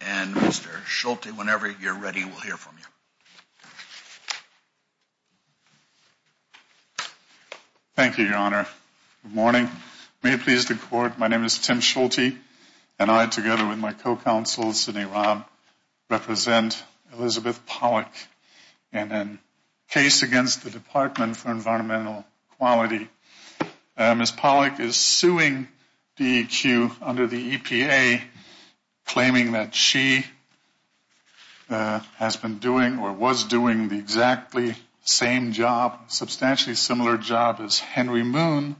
and Mr. Schulte, whenever you're ready, we'll hear from you. Thank you, Your Honor. Good morning. May it please the Court, my name is Tim Schulte, and I, together with my co-counsel, Sidney Robb, represent Elizabeth Polak in a case against the Department for Environmental Quality. Ms. Polak is suing DEQ under the EPA, claiming that she has been doing or was doing the exactly same job, substantially similar job as Henry Moon,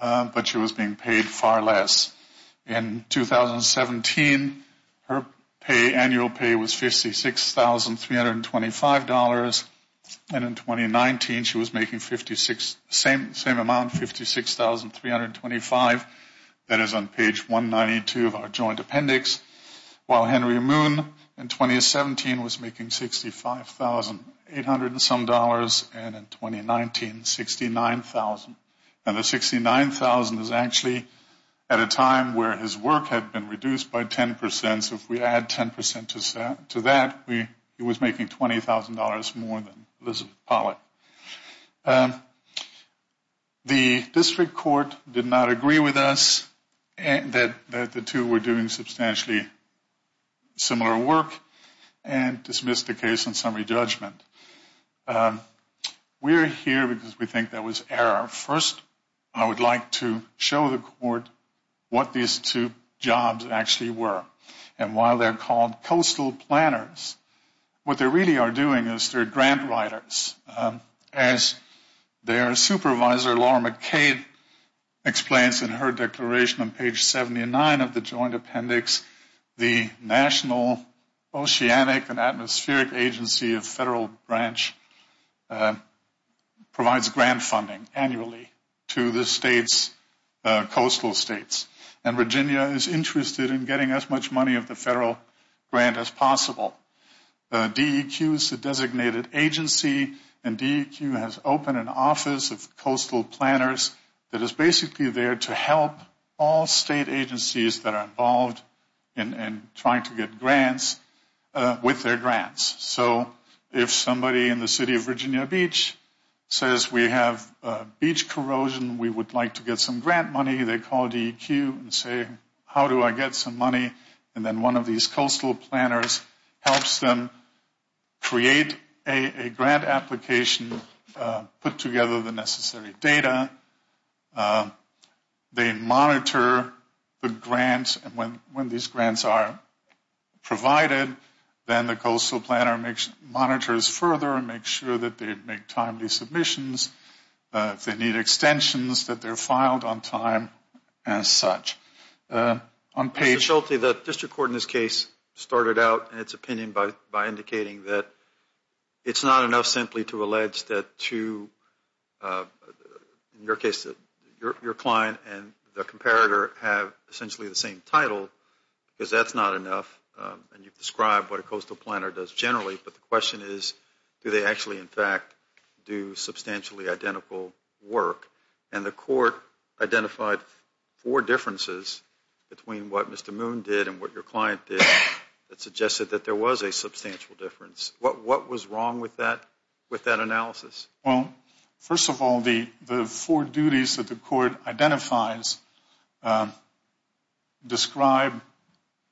but she was being paid far less. In 2017, her annual pay was $56,325, and in 2019, she was making the same amount, $56,325. That is on page 192 of our joint appendix. While Henry Moon, in 2017, was making $65,800 and in 2019, $69,000. Now, the $69,000 is actually at a time where his work had been reduced by 10%, so if we add 10% to that, he was making $20,000 more than Elizabeth Polak. The district court did not agree with us that the two were doing substantially similar work and dismissed the case on summary judgment. We are here because we think there was error. First, I would like to show the court what these two jobs actually were, and while they are called coastal planners, what they really are doing is they are grant writers. As their supervisor, Laura McCade, explains in her declaration on page 79 of the joint appendix, the National Oceanic and Atmospheric Agency of Federal Branch provides grant funding annually to the state's coastal states, and Virginia is interested in getting as much money of the federal grant as possible. DEQ is the designated agency, and DEQ has opened an office of coastal planners that is basically there to help all state agencies that are involved in trying to get grants with their grants. So if somebody in the city of Virginia Beach says we have beach corrosion, we would like to get some grant money, they call DEQ and say, how do I get some money? And then one of these coastal planners helps them create a grant application, put together the necessary data. They monitor the grants, and when these grants are provided, then the coastal planner monitors further and makes sure that they make timely submissions. If they need extensions, that they're filed on time as such. Mr. Schulte, the district court in this case started out in its opinion by indicating that it's not enough simply to allege that two, in your case, your client and the comparator have essentially the same title, because that's not enough, and you've described what a coastal planner does generally, but the question is, do they actually, in fact, do substantially identical work? And the court identified four differences between what Mr. Moon did and what your client did that suggested that there was a substantial difference. What was wrong with that analysis? Well, first of all, the four duties that the court identifies describe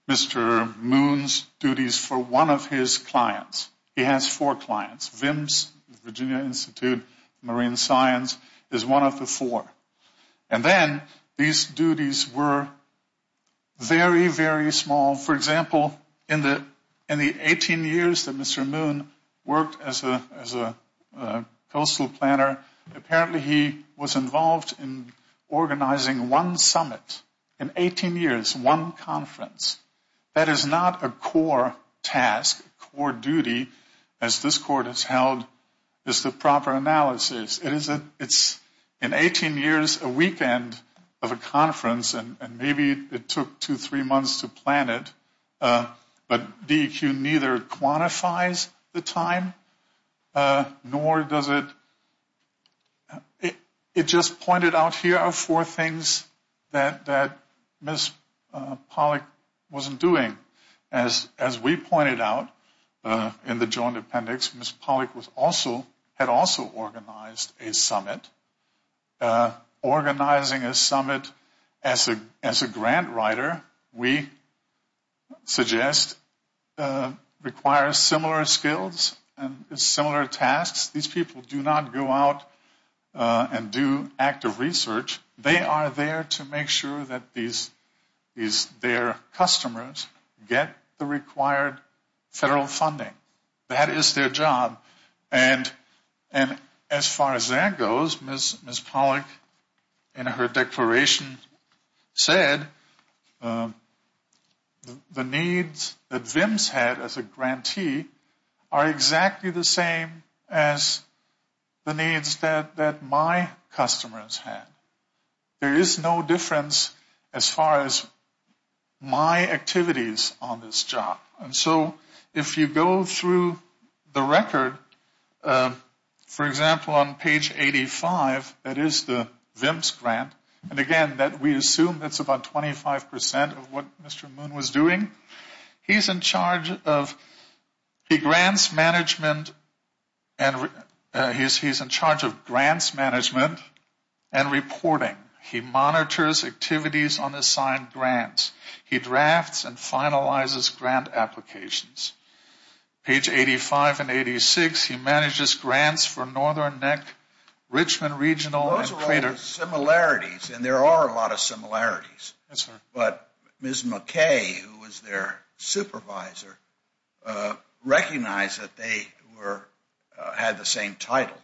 Mr. Moon's duties for one of his clients. He has four clients. VIMS, Virginia Institute of Marine Science, is one of the four. And then these duties were very, very small. For example, in the 18 years that Mr. Moon worked as a coastal planner, apparently he was involved in organizing one summit in 18 years, one conference. That is not a core task, a core duty, as this court has held, is the proper analysis. It's in 18 years, a weekend of a conference, and maybe it took two, three months to plan it, but DEQ neither quantifies the time, nor does it, it just pointed out, here are four things that Ms. Pollack wasn't doing. As we pointed out in the joint appendix, Ms. Pollack had also organized a summit. Organizing a summit as a grant writer, we suggest, requires similar skills and similar tasks. These people do not go out and do active research. They are there to make sure that their customers get the required federal funding. That is their job. And as far as that goes, Ms. Pollack in her declaration said, the needs that VIMS had as a grantee are exactly the same as the needs that my customers had. There is no difference as far as my activities on this job. And so if you go through the record, for example, on page 85, that is the VIMS grant, and again, we assume that is about 25% of what Mr. Moon was doing. He is in charge of grants management and reporting. He monitors activities on assigned grants. He drafts and finalizes grant applications. Page 85 and 86, he manages grants for Northern Neck, Richmond Regional, and Crater. Those are all similarities, and there are a lot of similarities. But Ms. McKay, who was their supervisor, recognized that they had the same title.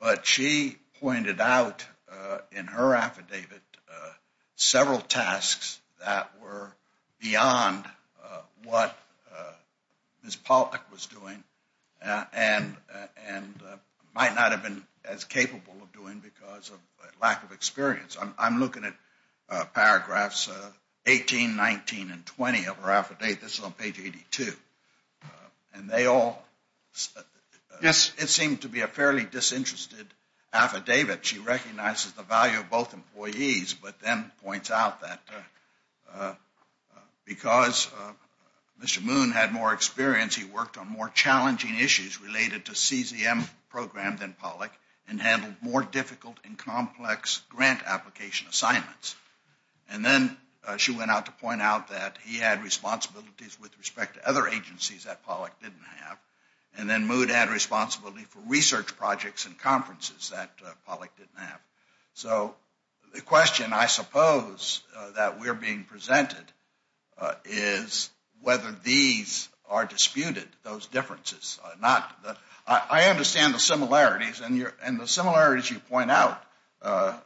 But she pointed out in her affidavit several tasks that were beyond what Ms. Pollack was doing and might not have been as capable of doing because of lack of experience. I'm looking at paragraphs 18, 19, and 20 of her affidavit. This is on page 82. It seemed to be a fairly disinterested affidavit. She recognizes the value of both employees but then points out that because Mr. Moon had more experience, he worked on more challenging issues related to CZM programs than Pollack and handled more difficult and complex grant application assignments. And then she went out to point out that he had responsibilities with respect to other agencies that Pollack didn't have. And then Moon had responsibility for research projects and conferences that Pollack didn't have. So the question, I suppose, that we're being presented is whether these are disputed, those differences. I understand the similarities, and the similarities you point out are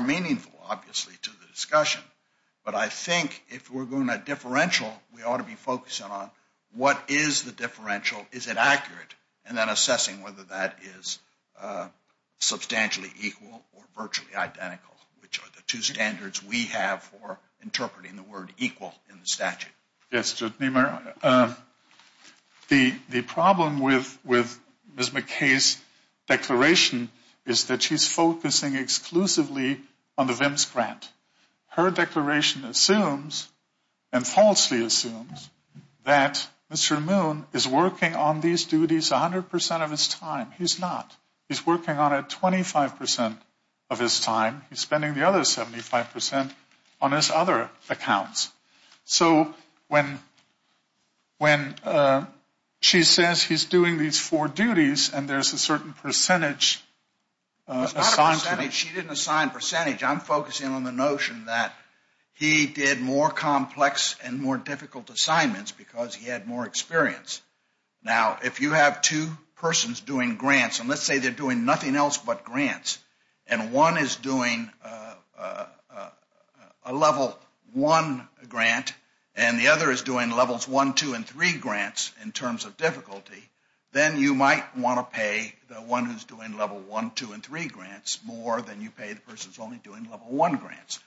meaningful, obviously, to the discussion. But I think if we're going at differential, we ought to be focusing on what is the differential, is it accurate, and then assessing whether that is substantially equal or virtually identical, which are the two standards we have for interpreting the word equal in the statute. Yes, Judge Niemeyer. The problem with Ms. McKay's declaration is that she's focusing exclusively on the VIMS grant. Her declaration assumes and falsely assumes that Mr. Moon is working on these duties 100% of his time. He's not. He's working on it 25% of his time. He's spending the other 75% on his other accounts. So when she says he's doing these four duties and there's a certain percentage assigned to him. It's not a percentage. She didn't assign percentage. I'm focusing on the notion that he did more complex and more difficult assignments because he had more experience. Now, if you have two persons doing grants, and let's say they're doing nothing else but grants, and one is doing a Level 1 grant and the other is doing Levels 1, 2, and 3 grants in terms of difficulty, then you might want to pay the one who's doing Level 1, 2, and 3 grants more than you pay the person who's only doing Level 1 grants.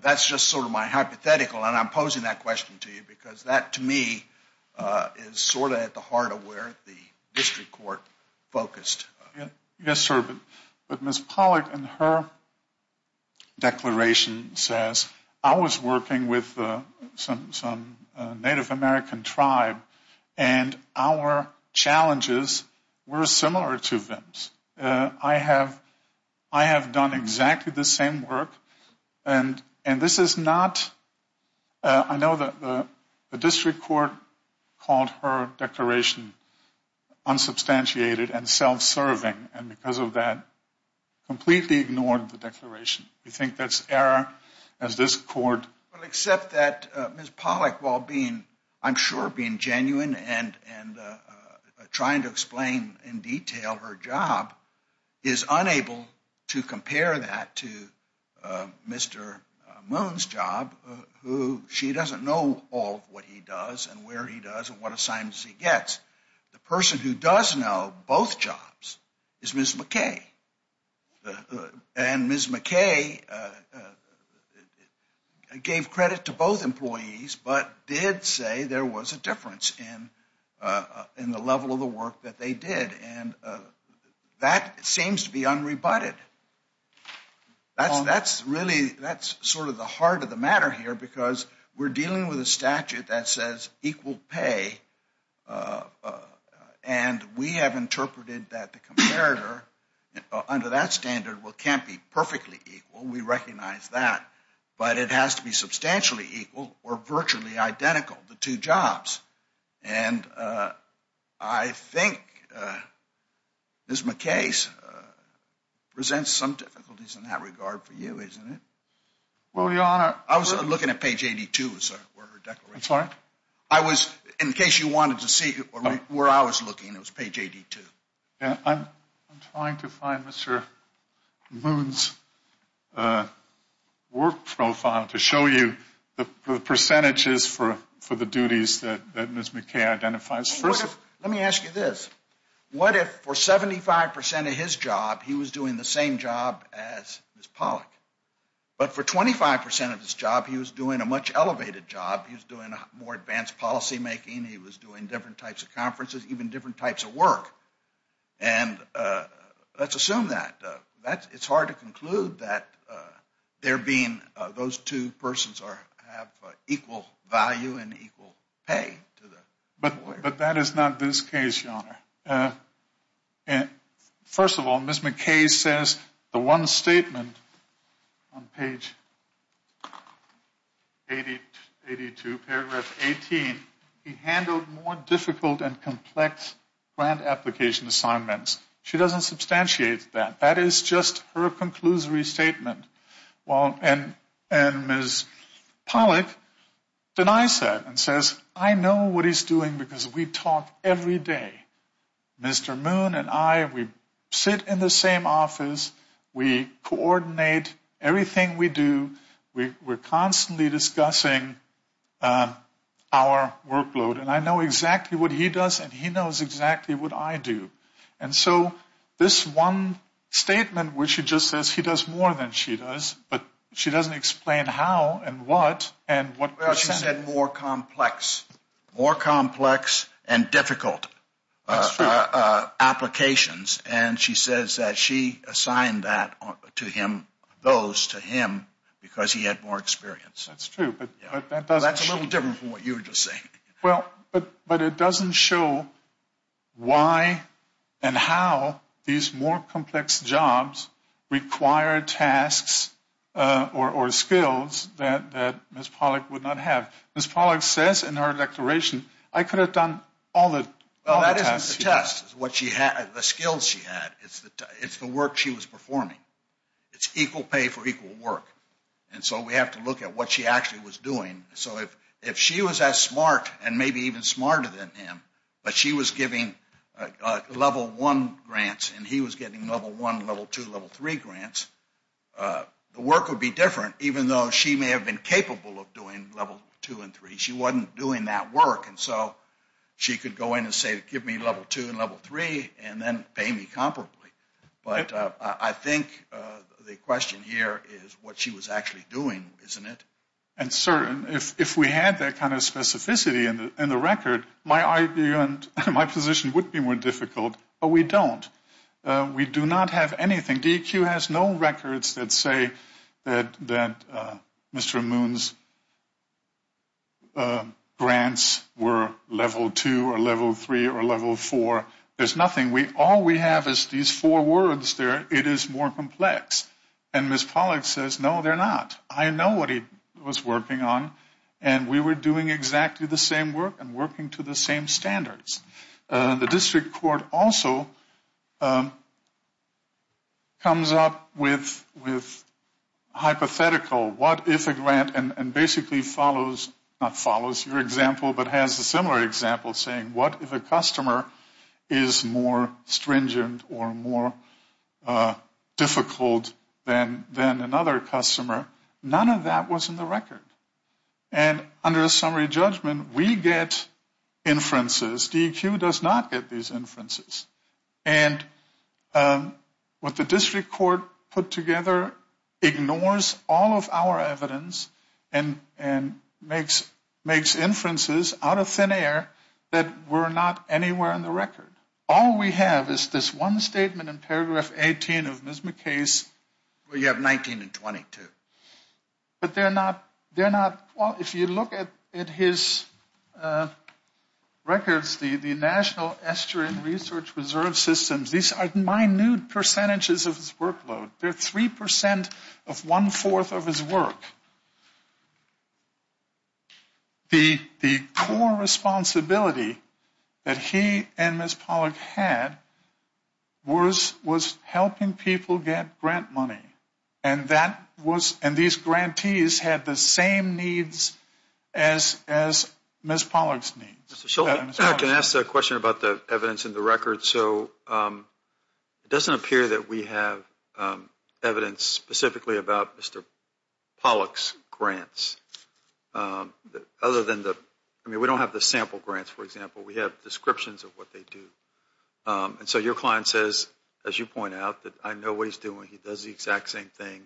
That's just sort of my hypothetical, and I'm posing that question to you because that, to me, is sort of at the heart of where the district court focused. Yes, sir, but Ms. Pollack in her declaration says, I was working with some Native American tribe, and our challenges were similar to them's. I have done exactly the same work, and this is not – I know that the district court called her declaration unsubstantiated and self-serving, and because of that, completely ignored the declaration. We think that's error, as this court – Except that Ms. Pollack, while being, I'm sure, being genuine and trying to explain in detail her job, is unable to compare that to Mr. Moon's job, who she doesn't know all of what he does and where he does and what assignments he gets. The person who does know both jobs is Ms. McKay, and Ms. McKay gave credit to both employees but did say there was a difference in the level of the work that they did, and that seems to be unrebutted. That's really – that's sort of the heart of the matter here because we're dealing with a statute that says equal pay, and we have interpreted that the comparator under that standard can't be perfectly equal. We recognize that, but it has to be substantially equal or virtually identical, the two jobs, and I think Ms. McKay presents some difficulties in that regard for you, isn't it? Well, Your Honor – I was looking at page 82, sir, where her declaration – I'm sorry? I was – in case you wanted to see where I was looking, it was page 82. I'm trying to find Mr. Moon's work profile to show you the percentages for the duties that Ms. McKay identifies. Let me ask you this. What if for 75% of his job he was doing the same job as Ms. Pollack, but for 25% of his job he was doing a much elevated job? He was doing more advanced policymaking. He was doing different types of conferences, even different types of work. And let's assume that. It's hard to conclude that there being – those two persons have equal value and equal pay. But that is not this case, Your Honor. First of all, Ms. McKay says the one statement on page 82, paragraph 18, he handled more difficult and complex grant application assignments. She doesn't substantiate that. That is just her conclusory statement. And Ms. Pollack denies that and says, I know what he's doing because we talk every day. Mr. Moon and I, we sit in the same office. We coordinate everything we do. We're constantly discussing our workload. And I know exactly what he does and he knows exactly what I do. And so this one statement where she just says he does more than she does, but she doesn't explain how and what and what percentage. Well, she said more complex. More complex and difficult applications. And she says that she assigned that to him, those to him, because he had more experience. That's true. That's a little different from what you were just saying. Well, but it doesn't show why and how these more complex jobs require tasks or skills that Ms. Pollack would not have. Ms. Pollack says in her declaration, I could have done all the tasks. Well, that isn't the task. It's the skills she had. It's the work she was performing. It's equal pay for equal work. And so we have to look at what she actually was doing. So if she was as smart and maybe even smarter than him, but she was giving Level 1 grants and he was getting Level 1, Level 2, Level 3 grants, the work would be different, even though she may have been capable of doing Level 2 and 3. She wasn't doing that work. And so she could go in and say, give me Level 2 and Level 3 and then pay me comparably. But I think the question here is what she was actually doing, isn't it? And, sir, if we had that kind of specificity in the record, my position would be more difficult, but we don't. We do not have anything. DEQ has no records that say that Mr. Moon's grants were Level 2 or Level 3 or Level 4. There's nothing. All we have is these four words there. It is more complex. And Ms. Pollack says, no, they're not. I know what he was working on, and we were doing exactly the same work and working to the same standards. The district court also comes up with hypothetical, what if a grant and basically follows, not follows your example, but has a similar example saying, what if a customer is more stringent or more difficult than another customer? None of that was in the record. And under a summary judgment, we get inferences. DEQ does not get these inferences. And what the district court put together ignores all of our evidence and makes inferences out of thin air that were not anywhere in the record. All we have is this one statement in paragraph 18 of Ms. McKay's where you have 19 and 22. But they're not, if you look at his records, the National Estuarine Research Reserve Systems, these are minute percentages of his workload. They're 3% of one-fourth of his work. The core responsibility that he and Ms. Pollack had was helping people get grant money. And that was, and these grantees had the same needs as Ms. Pollack's needs. Mr. Shultz, can I ask a question about the evidence in the record? So it doesn't appear that we have evidence specifically about Mr. Pollack's grants. Other than the, I mean, we don't have the sample grants, for example. We have descriptions of what they do. And so your client says, as you point out, that I know what he's doing. He does the exact same thing.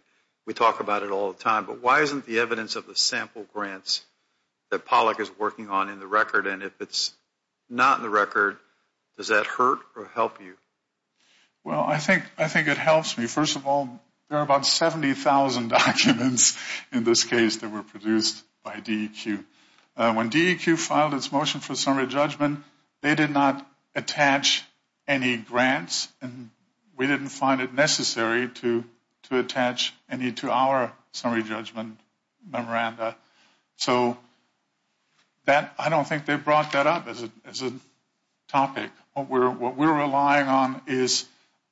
We talk about it all the time. But why isn't the evidence of the sample grants that Pollack is working on in the record? And if it's not in the record, does that hurt or help you? Well, I think it helps me. First of all, there are about 70,000 documents in this case that were produced by DEQ. When DEQ filed its motion for summary judgment, they did not attach any grants. And we didn't find it necessary to attach any to our summary judgment memoranda. So I don't think they brought that up as a topic. What we're relying on is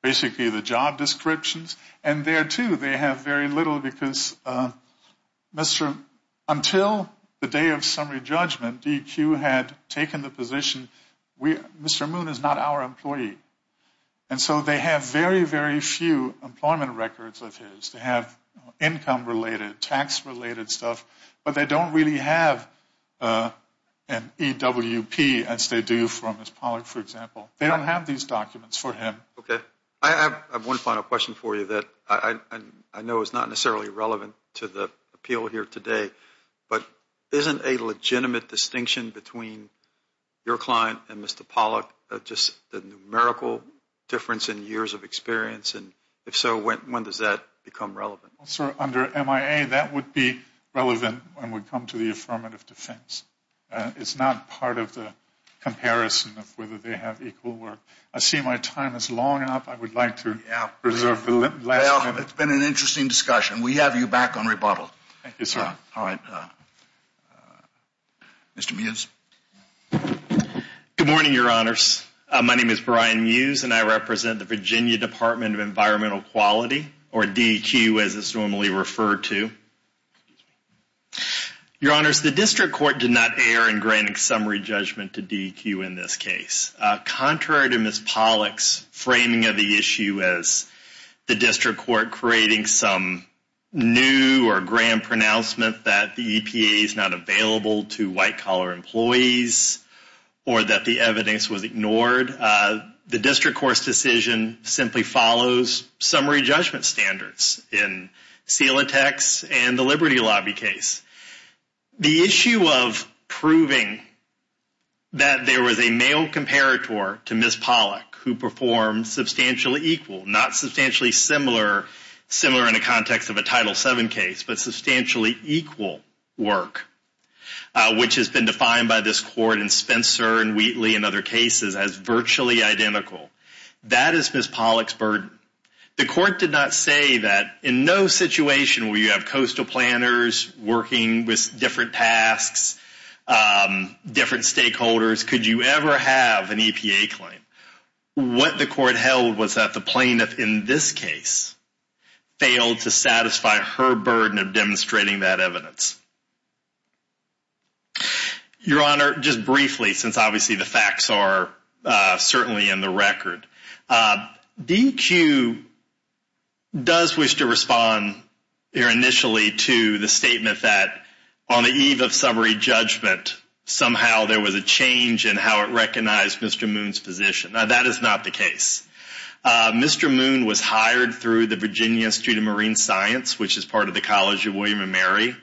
basically the job descriptions. And there, too, they have very little because until the day of summary judgment, DEQ had taken the position, Mr. Moon is not our employee. And so they have very, very few employment records of his. They have income-related, tax-related stuff. But they don't really have an EWP, as they do from Mr. Pollack, for example. They don't have these documents for him. Okay. I have one final question for you that I know is not necessarily relevant to the appeal here today. But isn't a legitimate distinction between your client and Mr. Pollack just the numerical difference in years of experience? And if so, when does that become relevant? Sir, under MIA, that would be relevant when we come to the affirmative defense. It's not part of the comparison of whether they have equal work. I see my time is long enough. I would like to reserve the last minute. Well, it's been an interesting discussion. We have you back on rebuttal. Thank you, sir. All right. Mr. Mews. Good morning, Your Honors. My name is Brian Mews, and I represent the Virginia Department of Environmental Quality, or DEQ as it's normally referred to. Your Honors, the district court did not err in granting summary judgment to DEQ in this case. Contrary to Ms. Pollack's framing of the issue as the district court creating some new or grand pronouncement that the EPA is not available to white-collar employees or that the evidence was ignored, the district court's decision simply follows summary judgment standards in Celotex and the Liberty Lobby case. The issue of proving that there was a male comparator to Ms. Pollack who performed substantially equal, not substantially similar, similar in the context of a Title VII case, but substantially equal work, which has been defined by this court in Spencer and Wheatley and other cases as virtually identical, that is Ms. Pollack's burden. The court did not say that in no situation where you have coastal planners working with different tasks, different stakeholders, could you ever have an EPA claim. What the court held was that the plaintiff in this case failed to satisfy her burden of demonstrating that evidence. Your Honor, just briefly, since obviously the facts are certainly in the record, DEQ does wish to respond here initially to the statement that on the eve of summary judgment, somehow there was a change in how it recognized Mr. Moon's position. That is not the case. Mr. Moon was hired through the Virginia Institute of Marine Science, which is part of the College of William & Mary.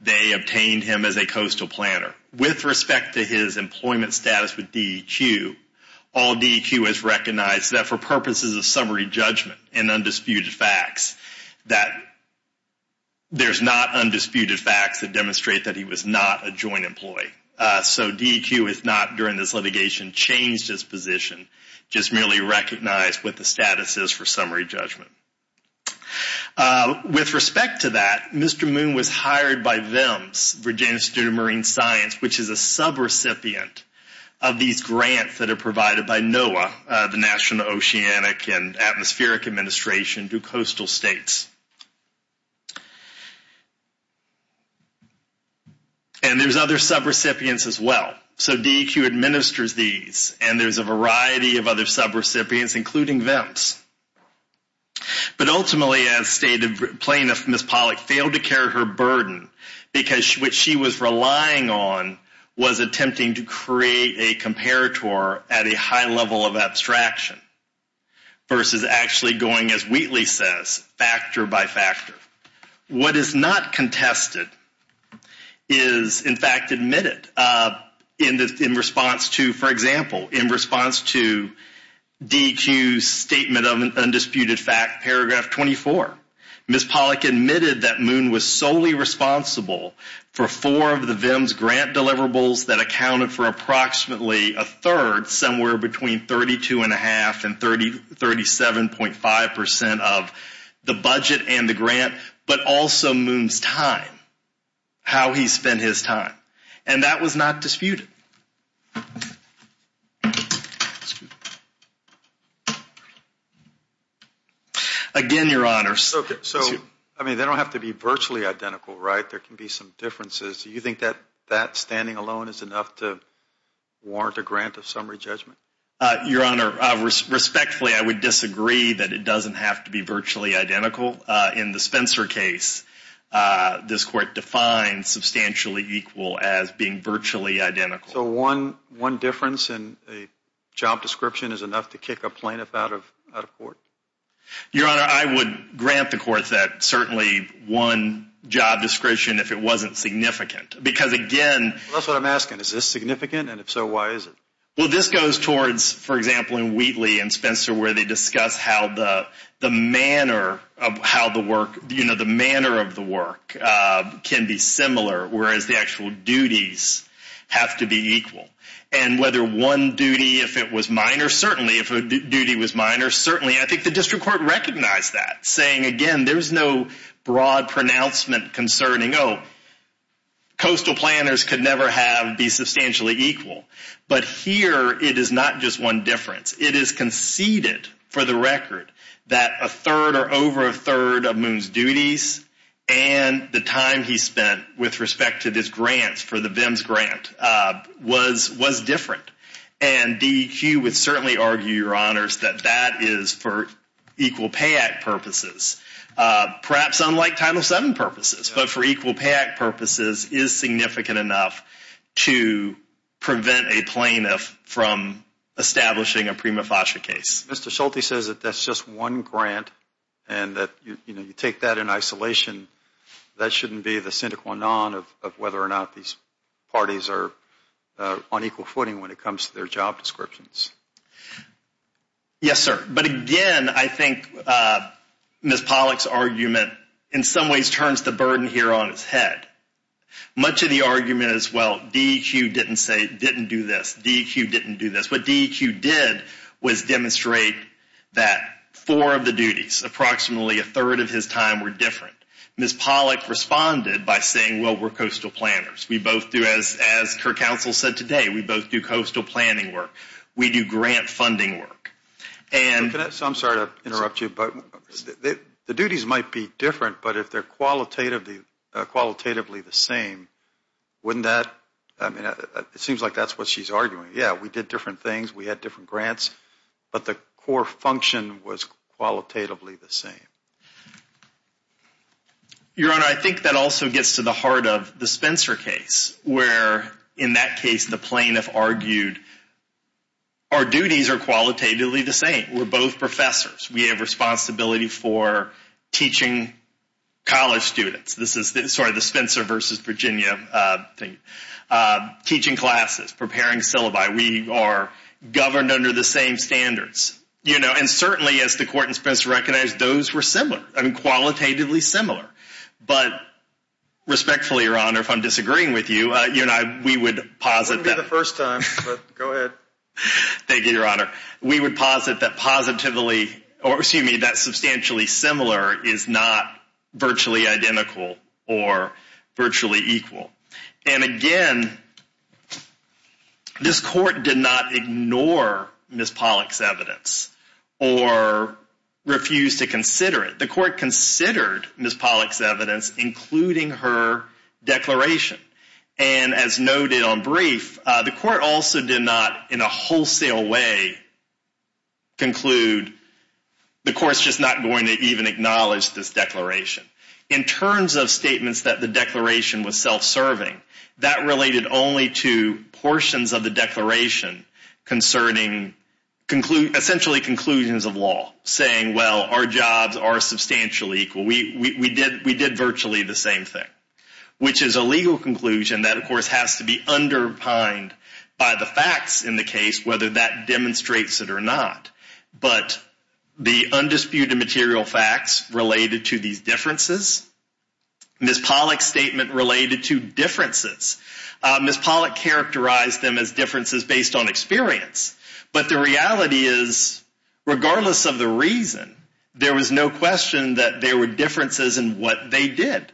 They obtained him as a coastal planner. With respect to his employment status with DEQ, all DEQ has recognized that for purposes of summary judgment and undisputed facts, that there's not undisputed facts that demonstrate that he was not a joint employee. So DEQ has not, during this litigation, changed his position, just merely recognized what the status is for summary judgment. With respect to that, Mr. Moon was hired by VIMS, Virginia Institute of Marine Science, which is a sub-recipient of these grants that are provided by NOAA, the National Oceanic and Atmospheric Administration, to coastal states. And there's other sub-recipients as well. So DEQ administers these, and there's a variety of other sub-recipients, including VIMS. But ultimately, as stated, plaintiff Ms. Pollack failed to carry her burden, because what she was relying on was attempting to create a comparator at a high level of abstraction versus actually going, as Wheatley says, factor by factor. What is not contested is, in fact, admitted in response to, for example, in response to DEQ's statement of an undisputed fact, paragraph 24, Ms. Pollack admitted that Moon was solely responsible for four of the VIMS grant deliverables that accounted for approximately a third, somewhere between 32.5% and 37.5% of the budget and the grant, but also Moon's time, how he spent his time. And that was not disputed. Again, Your Honor. So, I mean, they don't have to be virtually identical, right? There can be some differences. Do you think that that standing alone is enough to warrant a grant of summary judgment? Your Honor, respectfully, I would disagree that it doesn't have to be virtually identical. In the Spencer case, this Court defined substantially equal as being virtually identical. So one difference in a job description is enough to kick a plaintiff out of court? Your Honor, I would grant the Court that certainly one job description if it wasn't significant, because again— That's what I'm asking. Is this significant? And if so, why is it? Well, this goes towards, for example, in Wheatley and Spencer, where they discuss how the manner of the work can be similar, whereas the actual duties have to be equal. And whether one duty, if it was minor, certainly, if a duty was minor, certainly, I think the District Court recognized that, saying, again, there's no broad pronouncement concerning, oh, coastal planners could never be substantially equal. But here, it is not just one difference. It is conceded for the record that a third or over a third of Moon's duties and the time he spent with respect to his grants for the VIMS grant was different. And DEQ would certainly argue, Your Honors, that that is for Equal Pay Act purposes, perhaps unlike Title VII purposes, but for Equal Pay Act purposes is significant enough to prevent a plaintiff from establishing a prima facie case. Mr. Schulte says that that's just one grant and that you take that in isolation. That shouldn't be the sine qua non of whether or not these parties are on equal footing when it comes to their job descriptions. Yes, sir. But again, I think Ms. Pollack's argument in some ways turns the burden here on its head. Much of the argument is, well, DEQ didn't do this. DEQ didn't do this. What DEQ did was demonstrate that four of the duties, approximately a third of his time, were different. Ms. Pollack responded by saying, well, we're coastal planners. We both do, as her counsel said today, we both do coastal planning work. We do grant funding work. So I'm sorry to interrupt you, but the duties might be different, but if they're qualitatively the same, wouldn't that, I mean, it seems like that's what she's arguing. Yeah, we did different things. We had different grants. But the core function was qualitatively the same. Your Honor, I think that also gets to the heart of the Spencer case, where, in that case, the plaintiff argued our duties are qualitatively the same. We're both professors. We have responsibility for teaching college students. This is sort of the Spencer versus Virginia thing, teaching classes, preparing syllabi. We are governed under the same standards. And certainly, as the court in Spencer recognized, those were similar, qualitatively similar. But respectfully, Your Honor, if I'm disagreeing with you, we would posit that. It wouldn't be the first time, but go ahead. Thank you, Your Honor. We would posit that positively, or excuse me, that substantially similar is not virtually identical or virtually equal. And again, this court did not ignore Ms. Pollack's evidence or refuse to consider it. The court considered Ms. Pollack's evidence, including her declaration. And as noted on brief, the court also did not, in a wholesale way, conclude, the court's just not going to even acknowledge this declaration. In terms of statements that the declaration was self-serving, that related only to portions of the declaration concerning essentially conclusions of law, saying, well, our jobs are substantially equal. We did virtually the same thing, which is a legal conclusion that, of course, has to be underpined by the facts in the case, whether that demonstrates it or not. But the undisputed material facts related to these differences, Ms. Pollack's statement related to differences, Ms. Pollack characterized them as differences based on experience. But the reality is, regardless of the reason, there was no question that there were differences in what they did.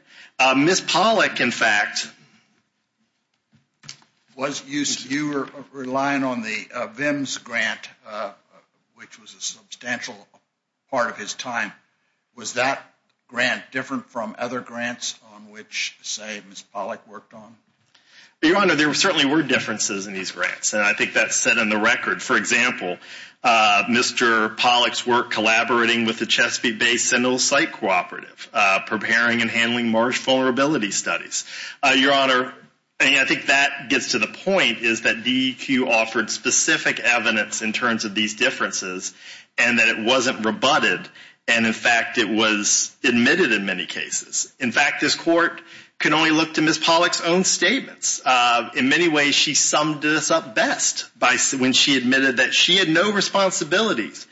Ms. Pollack, in fact. You were relying on the VIMS grant, which was a substantial part of his time. Was that grant different from other grants on which, say, Ms. Pollack worked on? Your Honor, there certainly were differences in these grants. And I think that's set in the record. For example, Mr. Pollack's work collaborating with the Chesapeake Bay Sentinel Site Cooperative, preparing and handling marsh vulnerability studies. Your Honor, I think that gets to the point, is that DEQ offered specific evidence in terms of these differences, and that it wasn't rebutted, and, in fact, it was admitted in many cases. In fact, this Court can only look to Ms. Pollack's own statements. In many ways, she summed this up best when she admitted that she had no responsibilities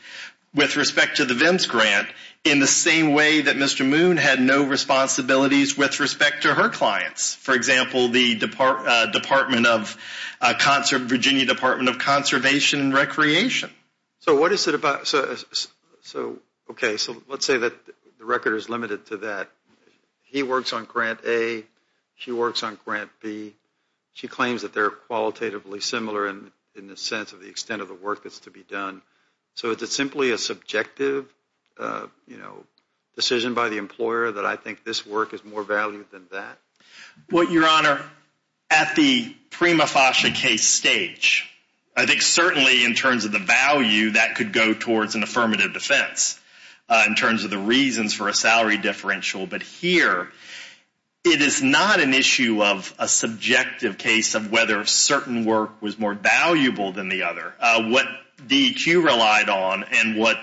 with respect to the VIMS grant, in the same way that Mr. Moon had no responsibilities with respect to her clients. For example, the Virginia Department of Conservation and Recreation. Okay, so let's say that the record is limited to that. He works on Grant A. She works on Grant B. She claims that they're qualitatively similar in the sense of the extent of the work that's to be done. So is it simply a subjective decision by the employer that I think this work is more valued than that? Well, Your Honor, at the prima facie case stage, I think certainly in terms of the value, that could go towards an affirmative defense in terms of the reasons for a salary differential. But here, it is not an issue of a subjective case of whether a certain work was more valuable than the other. What DEQ relied on and what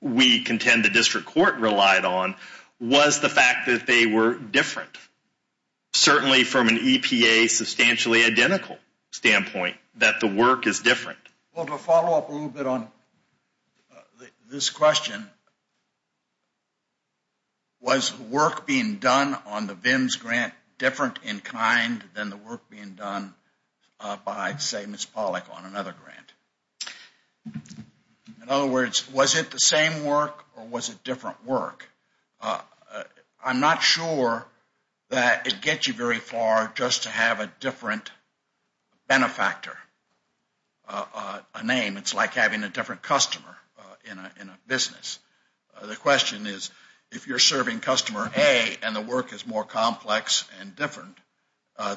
we contend the district court relied on was the fact that they were different, certainly from an EPA substantially identical standpoint, that the work is different. Well, to follow up a little bit on this question, was work being done on the VIMS grant different in kind than the work being done by, say, Ms. Pollack on another grant? In other words, was it the same work or was it different work? I'm not sure that it gets you very far just to have a different benefactor, a name. It's like having a different customer in a business. The question is, if you're serving customer A and the work is more complex and different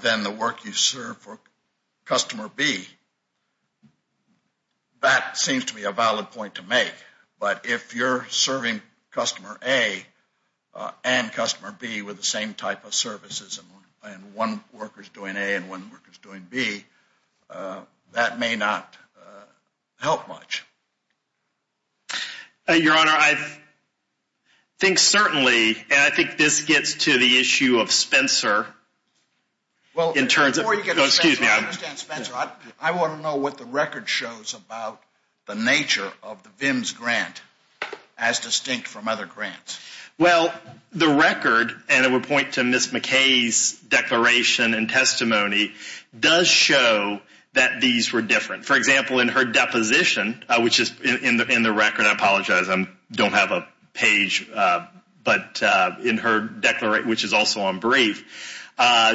than the work you serve for customer B, that seems to be a valid point to make. But if you're serving customer A and customer B with the same type of services and one worker is doing A and one worker is doing B, that may not help much. Your Honor, I think certainly, and I think this gets to the issue of Spencer. Before you get to Spencer, I understand Spencer. I want to know what the record shows about the nature of the VIMS grant as distinct from other grants. Well, the record, and I would point to Ms. McKay's declaration and testimony, does show that these were different. For example, in her deposition, which is in the record, I apologize, I don't have a page, but in her declaration, which is also on brief,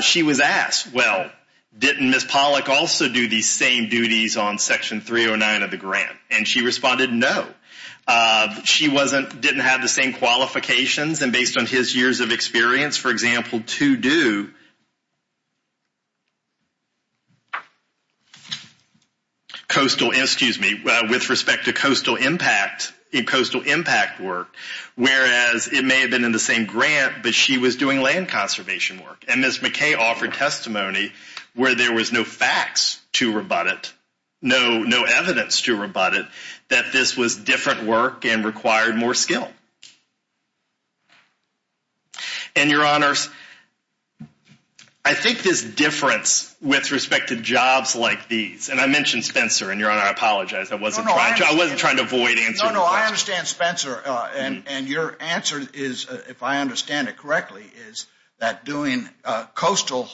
she was asked, well, didn't Ms. Pollack also do these same duties on Section 309 of the grant? And she responded no. She didn't have the same qualifications and based on his years of experience, for example, to do coastal, excuse me, with respect to coastal impact work, whereas it may have been in the same grant, but she was doing land conservation work. And Ms. McKay offered testimony where there was no facts to rebut it, no evidence to rebut it, that this was different work and required more skill. And, Your Honors, I think this difference with respect to jobs like these, and I mentioned Spencer, and Your Honor, I apologize, I wasn't trying to avoid answering the question. No, no, I understand Spencer, and your answer is, if I understand it correctly, is that doing coastal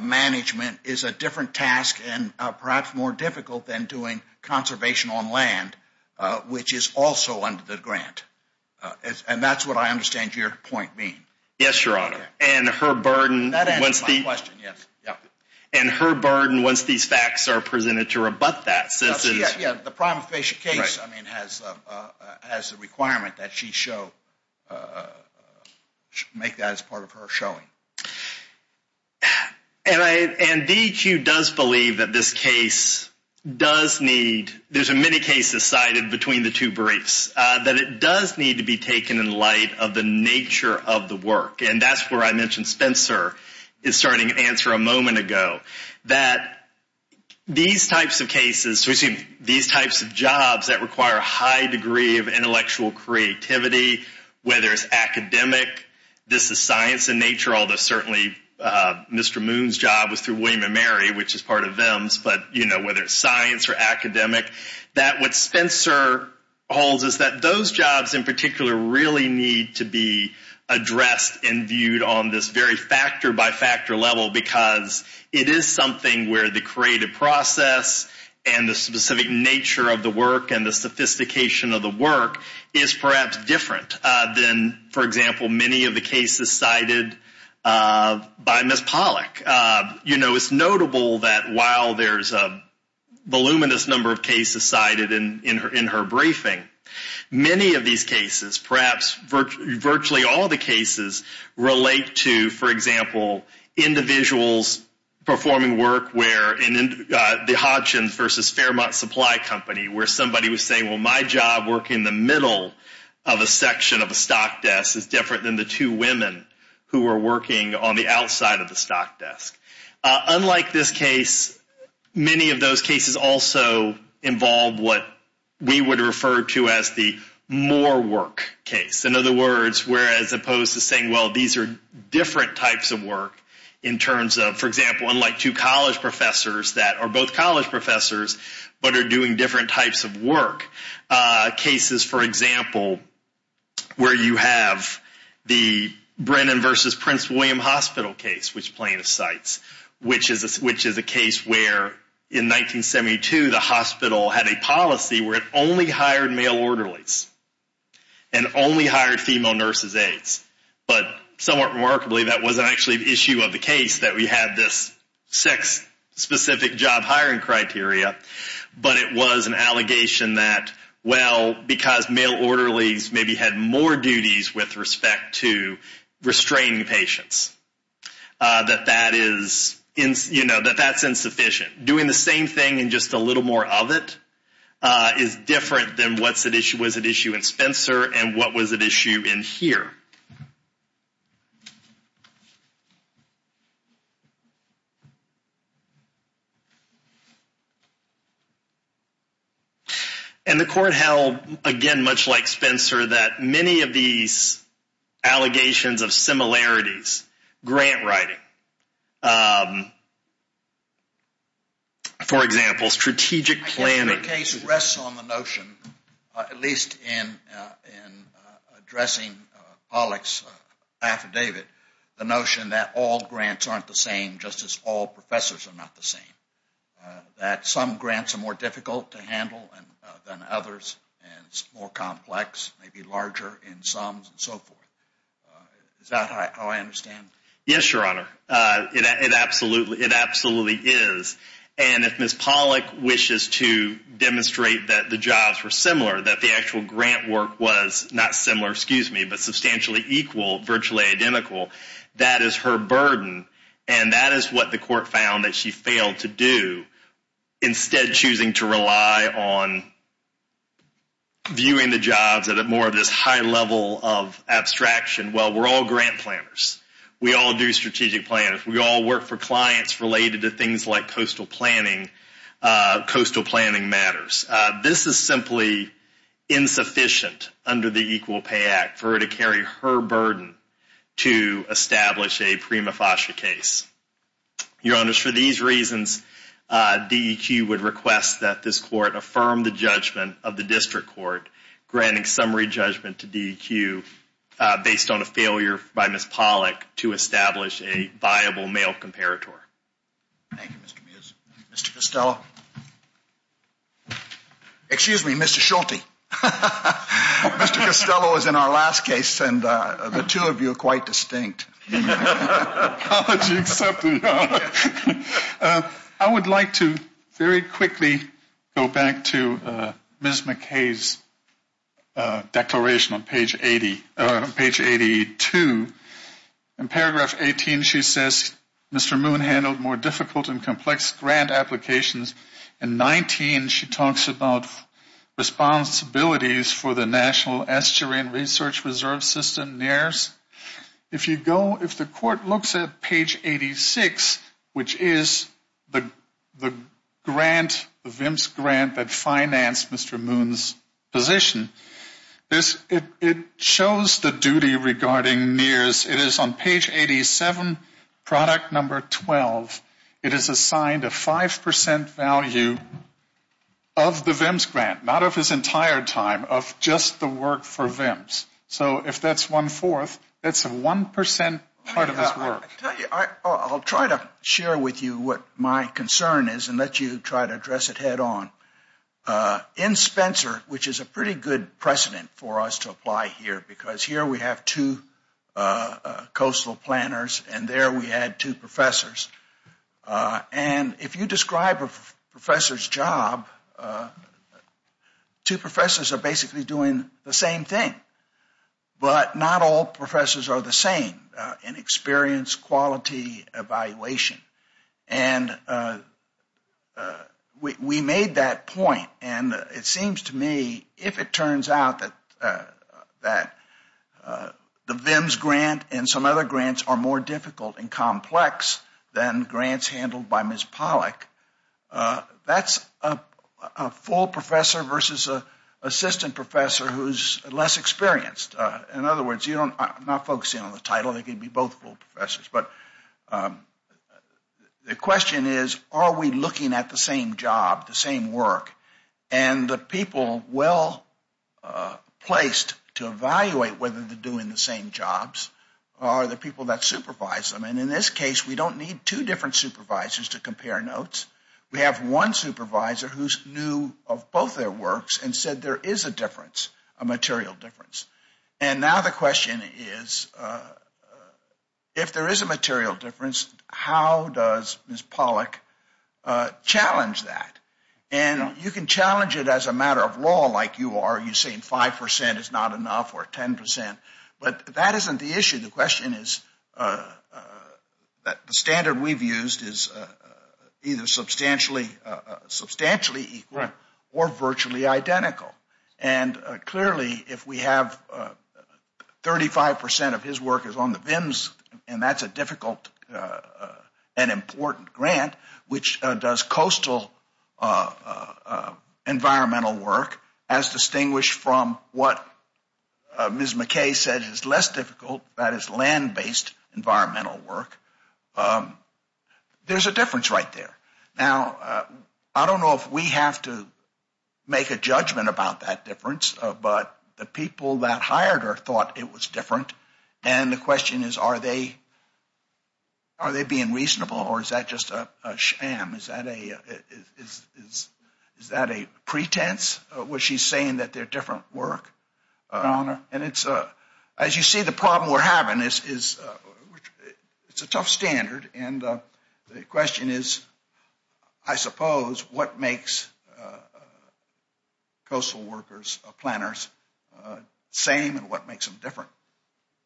management is a different task and perhaps more difficult than doing conservation on land, which is also under the grant. And that's what I understand your point being. Yes, Your Honor. That answers my question, yes. And her burden, once these facts are presented, to rebut that. Yeah, the prime case has the requirement that she make that as part of her showing. And DEQ does believe that this case does need, there's many cases cited between the two briefs, that it does need to be taken in light of the nature of the work. And that's where I mentioned Spencer is starting to answer a moment ago, that these types of cases, these types of jobs that require a high degree of intellectual creativity, whether it's academic, this is science in nature, although certainly Mr. Moon's job was through William & Mary, which is part of VIMS, but whether it's science or academic, that what Spencer holds is that those jobs in particular really need to be addressed and viewed on this very factor-by-factor level, because it is something where the creative process and the specific nature of the work and the sophistication of the work is perhaps different than, for example, many of the cases cited by Ms. Pollack. You know, it's notable that while there's a voluminous number of cases cited in her briefing, many of these cases, perhaps virtually all the cases, relate to, for example, individuals performing work where the Hodgkin versus Fairmont Supply Company, where somebody was saying, well, my job working the middle of a section of a stock desk is different than the two women who are working on the outside of the stock desk. Unlike this case, many of those cases also involve what we would refer to as the more work case. In other words, where as opposed to saying, well, these are different types of work, in terms of, for example, unlike two college professors that are both college professors, but are doing different types of work, cases, for example, where you have the Brennan versus Prince William Hospital case, which Plaintiff cites, which is a case where in 1972 the hospital had a policy where it only hired male orderlies and only hired female nurses aides. But somewhat remarkably, that wasn't actually the issue of the case, that we had this sex-specific job hiring criteria, but it was an allegation that, well, because male orderlies maybe had more duties with respect to restraining patients, that that is, you know, that that's insufficient. Doing the same thing and just a little more of it is different than what was at issue in Spencer and what was at issue in here. And the court held, again, much like Spencer, that many of these allegations of similarities, grant writing, for example, strategic planning. The case rests on the notion, at least in addressing Pollack's affidavit, the notion that all grants aren't the same just as all professors are not the same, that some grants are more difficult to handle than others, and it's more complex, maybe larger in sums and so forth. Is that how I understand? Yes, Your Honor. It absolutely is. And if Ms. Pollack wishes to demonstrate that the jobs were similar, that the actual grant work was not similar, excuse me, but substantially equal, virtually identical, that is her burden, and that is what the court found that she failed to do, instead choosing to rely on viewing the jobs at more of this high level of abstraction. Well, we're all grant planners. We all do strategic planning. We all work for clients related to things like coastal planning. Coastal planning matters. This is simply insufficient under the Equal Pay Act for her to carry her burden to establish a prima facie case. Your Honor, for these reasons, DEQ would request that this court affirm the judgment of the district court granting summary judgment to DEQ based on a failure by Ms. Pollack to establish a viable male comparator. Thank you, Mr. Mews. Mr. Costello. Excuse me, Mr. Schulte. Mr. Costello is in our last case, and the two of you are quite distinct. Apology accepted, Your Honor. I would like to very quickly go back to Ms. McKay's declaration on page 82. In paragraph 18, she says, Mr. Moon handled more difficult and complex grant applications. In 19, she talks about responsibilities for the National Estuary and Research Reserve System, NAERS. If the court looks at page 86, which is the VIMS grant that financed Mr. Moon's position, it shows the duty regarding NAERS. It is on page 87, product number 12. It is assigned a 5% value of the VIMS grant, not of his entire time, of just the work for VIMS. So if that's one-fourth, that's a 1% part of his work. I'll try to share with you what my concern is and let you try to address it head on. In Spencer, which is a pretty good precedent for us to apply here, because here we have two coastal planners and there we had two professors, and if you describe a professor's job, two professors are basically doing the same thing. But not all professors are the same in experience, quality, evaluation. And we made that point, and it seems to me, if it turns out that the VIMS grant and some other grants are more difficult and complex than grants handled by Ms. Pollack, that's a full professor versus an assistant professor who's less experienced. In other words, I'm not focusing on the title, they could be both full professors. But the question is, are we looking at the same job, the same work? And the people well placed to evaluate whether they're doing the same jobs are the people that supervise them. And in this case, we don't need two different supervisors to compare notes. We have one supervisor who's new of both their works and said there is a difference, a material difference. And now the question is, if there is a material difference, how does Ms. Pollack challenge that? And you can challenge it as a matter of law like you are, you're saying 5% is not enough or 10%, but that isn't the issue. The question is that the standard we've used is either substantially equal or virtually identical. And clearly if we have 35% of his work is on the VIMS, and that's a difficult and important grant, which does coastal environmental work as distinguished from what Ms. McKay said is less difficult, that is land-based environmental work, there's a difference right there. Now, I don't know if we have to make a judgment about that difference, but the people that hired her thought it was different. And the question is, are they being reasonable or is that just a sham? Is that a pretense where she's saying that they're different work? And as you see, the problem we're having is it's a tough standard, and the question is, I suppose, what makes coastal workers, planners, same and what makes them different?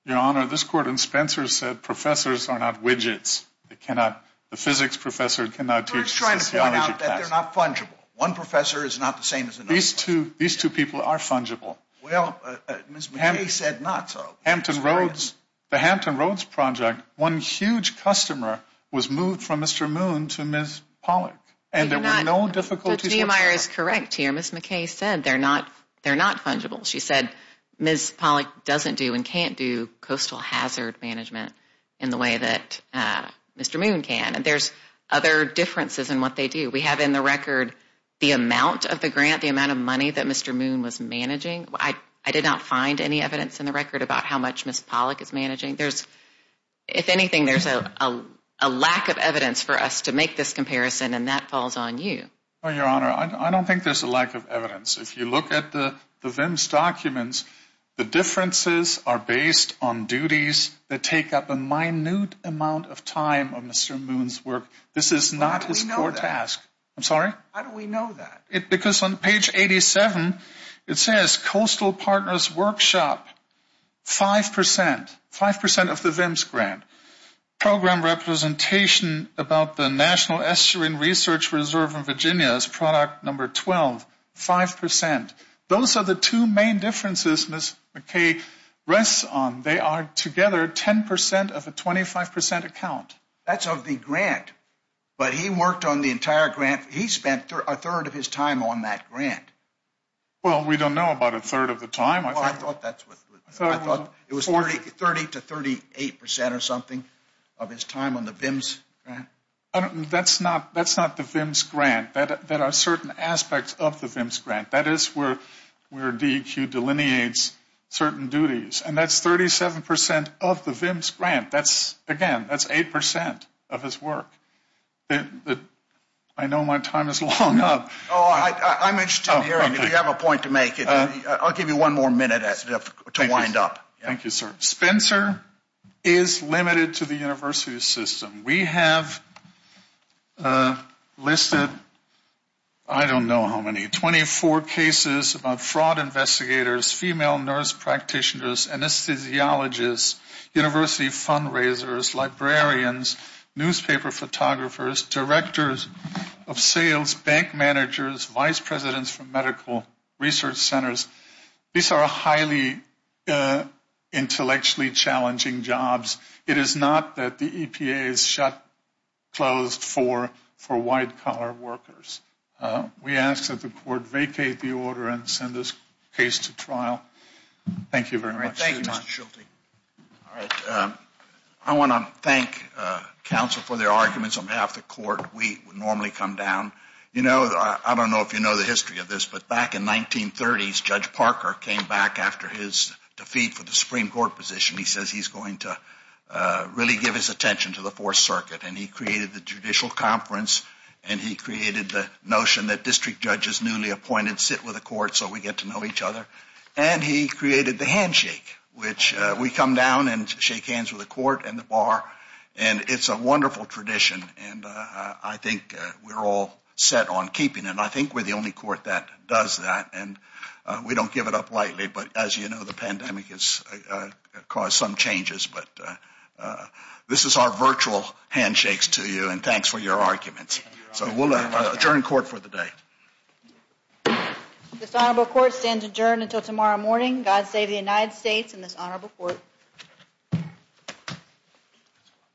Your Honor, this court in Spencer said professors are not widgets. The physics professor cannot teach sociology class. We're just trying to point out that they're not fungible. One professor is not the same as another. These two people are fungible. Well, Ms. McKay said not so. Hampton Roads, the Hampton Roads project, one huge customer was moved from Mr. Moon to Ms. Pollack, and there were no difficulties with that. Ms. Neumeier is correct here. Ms. McKay said they're not fungible. She said Ms. Pollack doesn't do and can't do coastal hazard management in the way that Mr. Moon can, and there's other differences in what they do. We have in the record the amount of the grant, the amount of money that Mr. Moon was managing. I did not find any evidence in the record about how much Ms. Pollack is managing. If anything, there's a lack of evidence for us to make this comparison, and that falls on you. Your Honor, I don't think there's a lack of evidence. If you look at the VIMS documents, the differences are based on duties that take up a minute amount of time of Mr. Moon's work. This is not his core task. How do we know that? I'm sorry? How do we know that? Because on page 87, it says, Coastal Partners Workshop, 5%, 5% of the VIMS grant. Program representation about the National Estuarine Research Reserve in Virginia is product number 12, 5%. Those are the two main differences Ms. McKay rests on. They are together 10% of a 25% account. That's of the grant. But he worked on the entire grant. He spent a third of his time on that grant. Well, we don't know about a third of the time. I thought it was 30% to 38% or something of his time on the VIMS grant. That's not the VIMS grant. There are certain aspects of the VIMS grant. That is where DEQ delineates certain duties. And that's 37% of the VIMS grant. Again, that's 8% of his work. I know my time is long up. I'm interested in hearing if you have a point to make. I'll give you one more minute to wind up. Thank you, sir. Spencer is limited to the university system. We have listed, I don't know how many, 24 cases about fraud investigators, female nurse practitioners, anesthesiologists, university fundraisers, librarians, newspaper photographers, directors of sales, bank managers, vice presidents for medical research centers. These are highly intellectually challenging jobs. It is not that the EPA is shut closed for white collar workers. We ask that the court vacate the order and send this case to trial. Thank you very much. Thank you, Mr. Schulte. All right. I want to thank counsel for their arguments on behalf of the court. We normally come down. You know, I don't know if you know the history of this, but back in the 1930s, Judge Parker came back after his defeat for the Supreme Court position. He says he's going to really give his attention to the Fourth Circuit. And he created the judicial conference, and he created the notion that district judges newly appointed sit with the court so we get to know each other. And he created the handshake, which we come down and shake hands with the court and the bar. And it's a wonderful tradition, and I think we're all set on keeping it. I think we're the only court that does that, and we don't give it up lightly. But as you know, the pandemic has caused some changes. But this is our virtual handshakes to you, and thanks for your arguments. So we'll adjourn court for the day. This honorable court stands adjourned until tomorrow morning. God save the United States and this honorable court.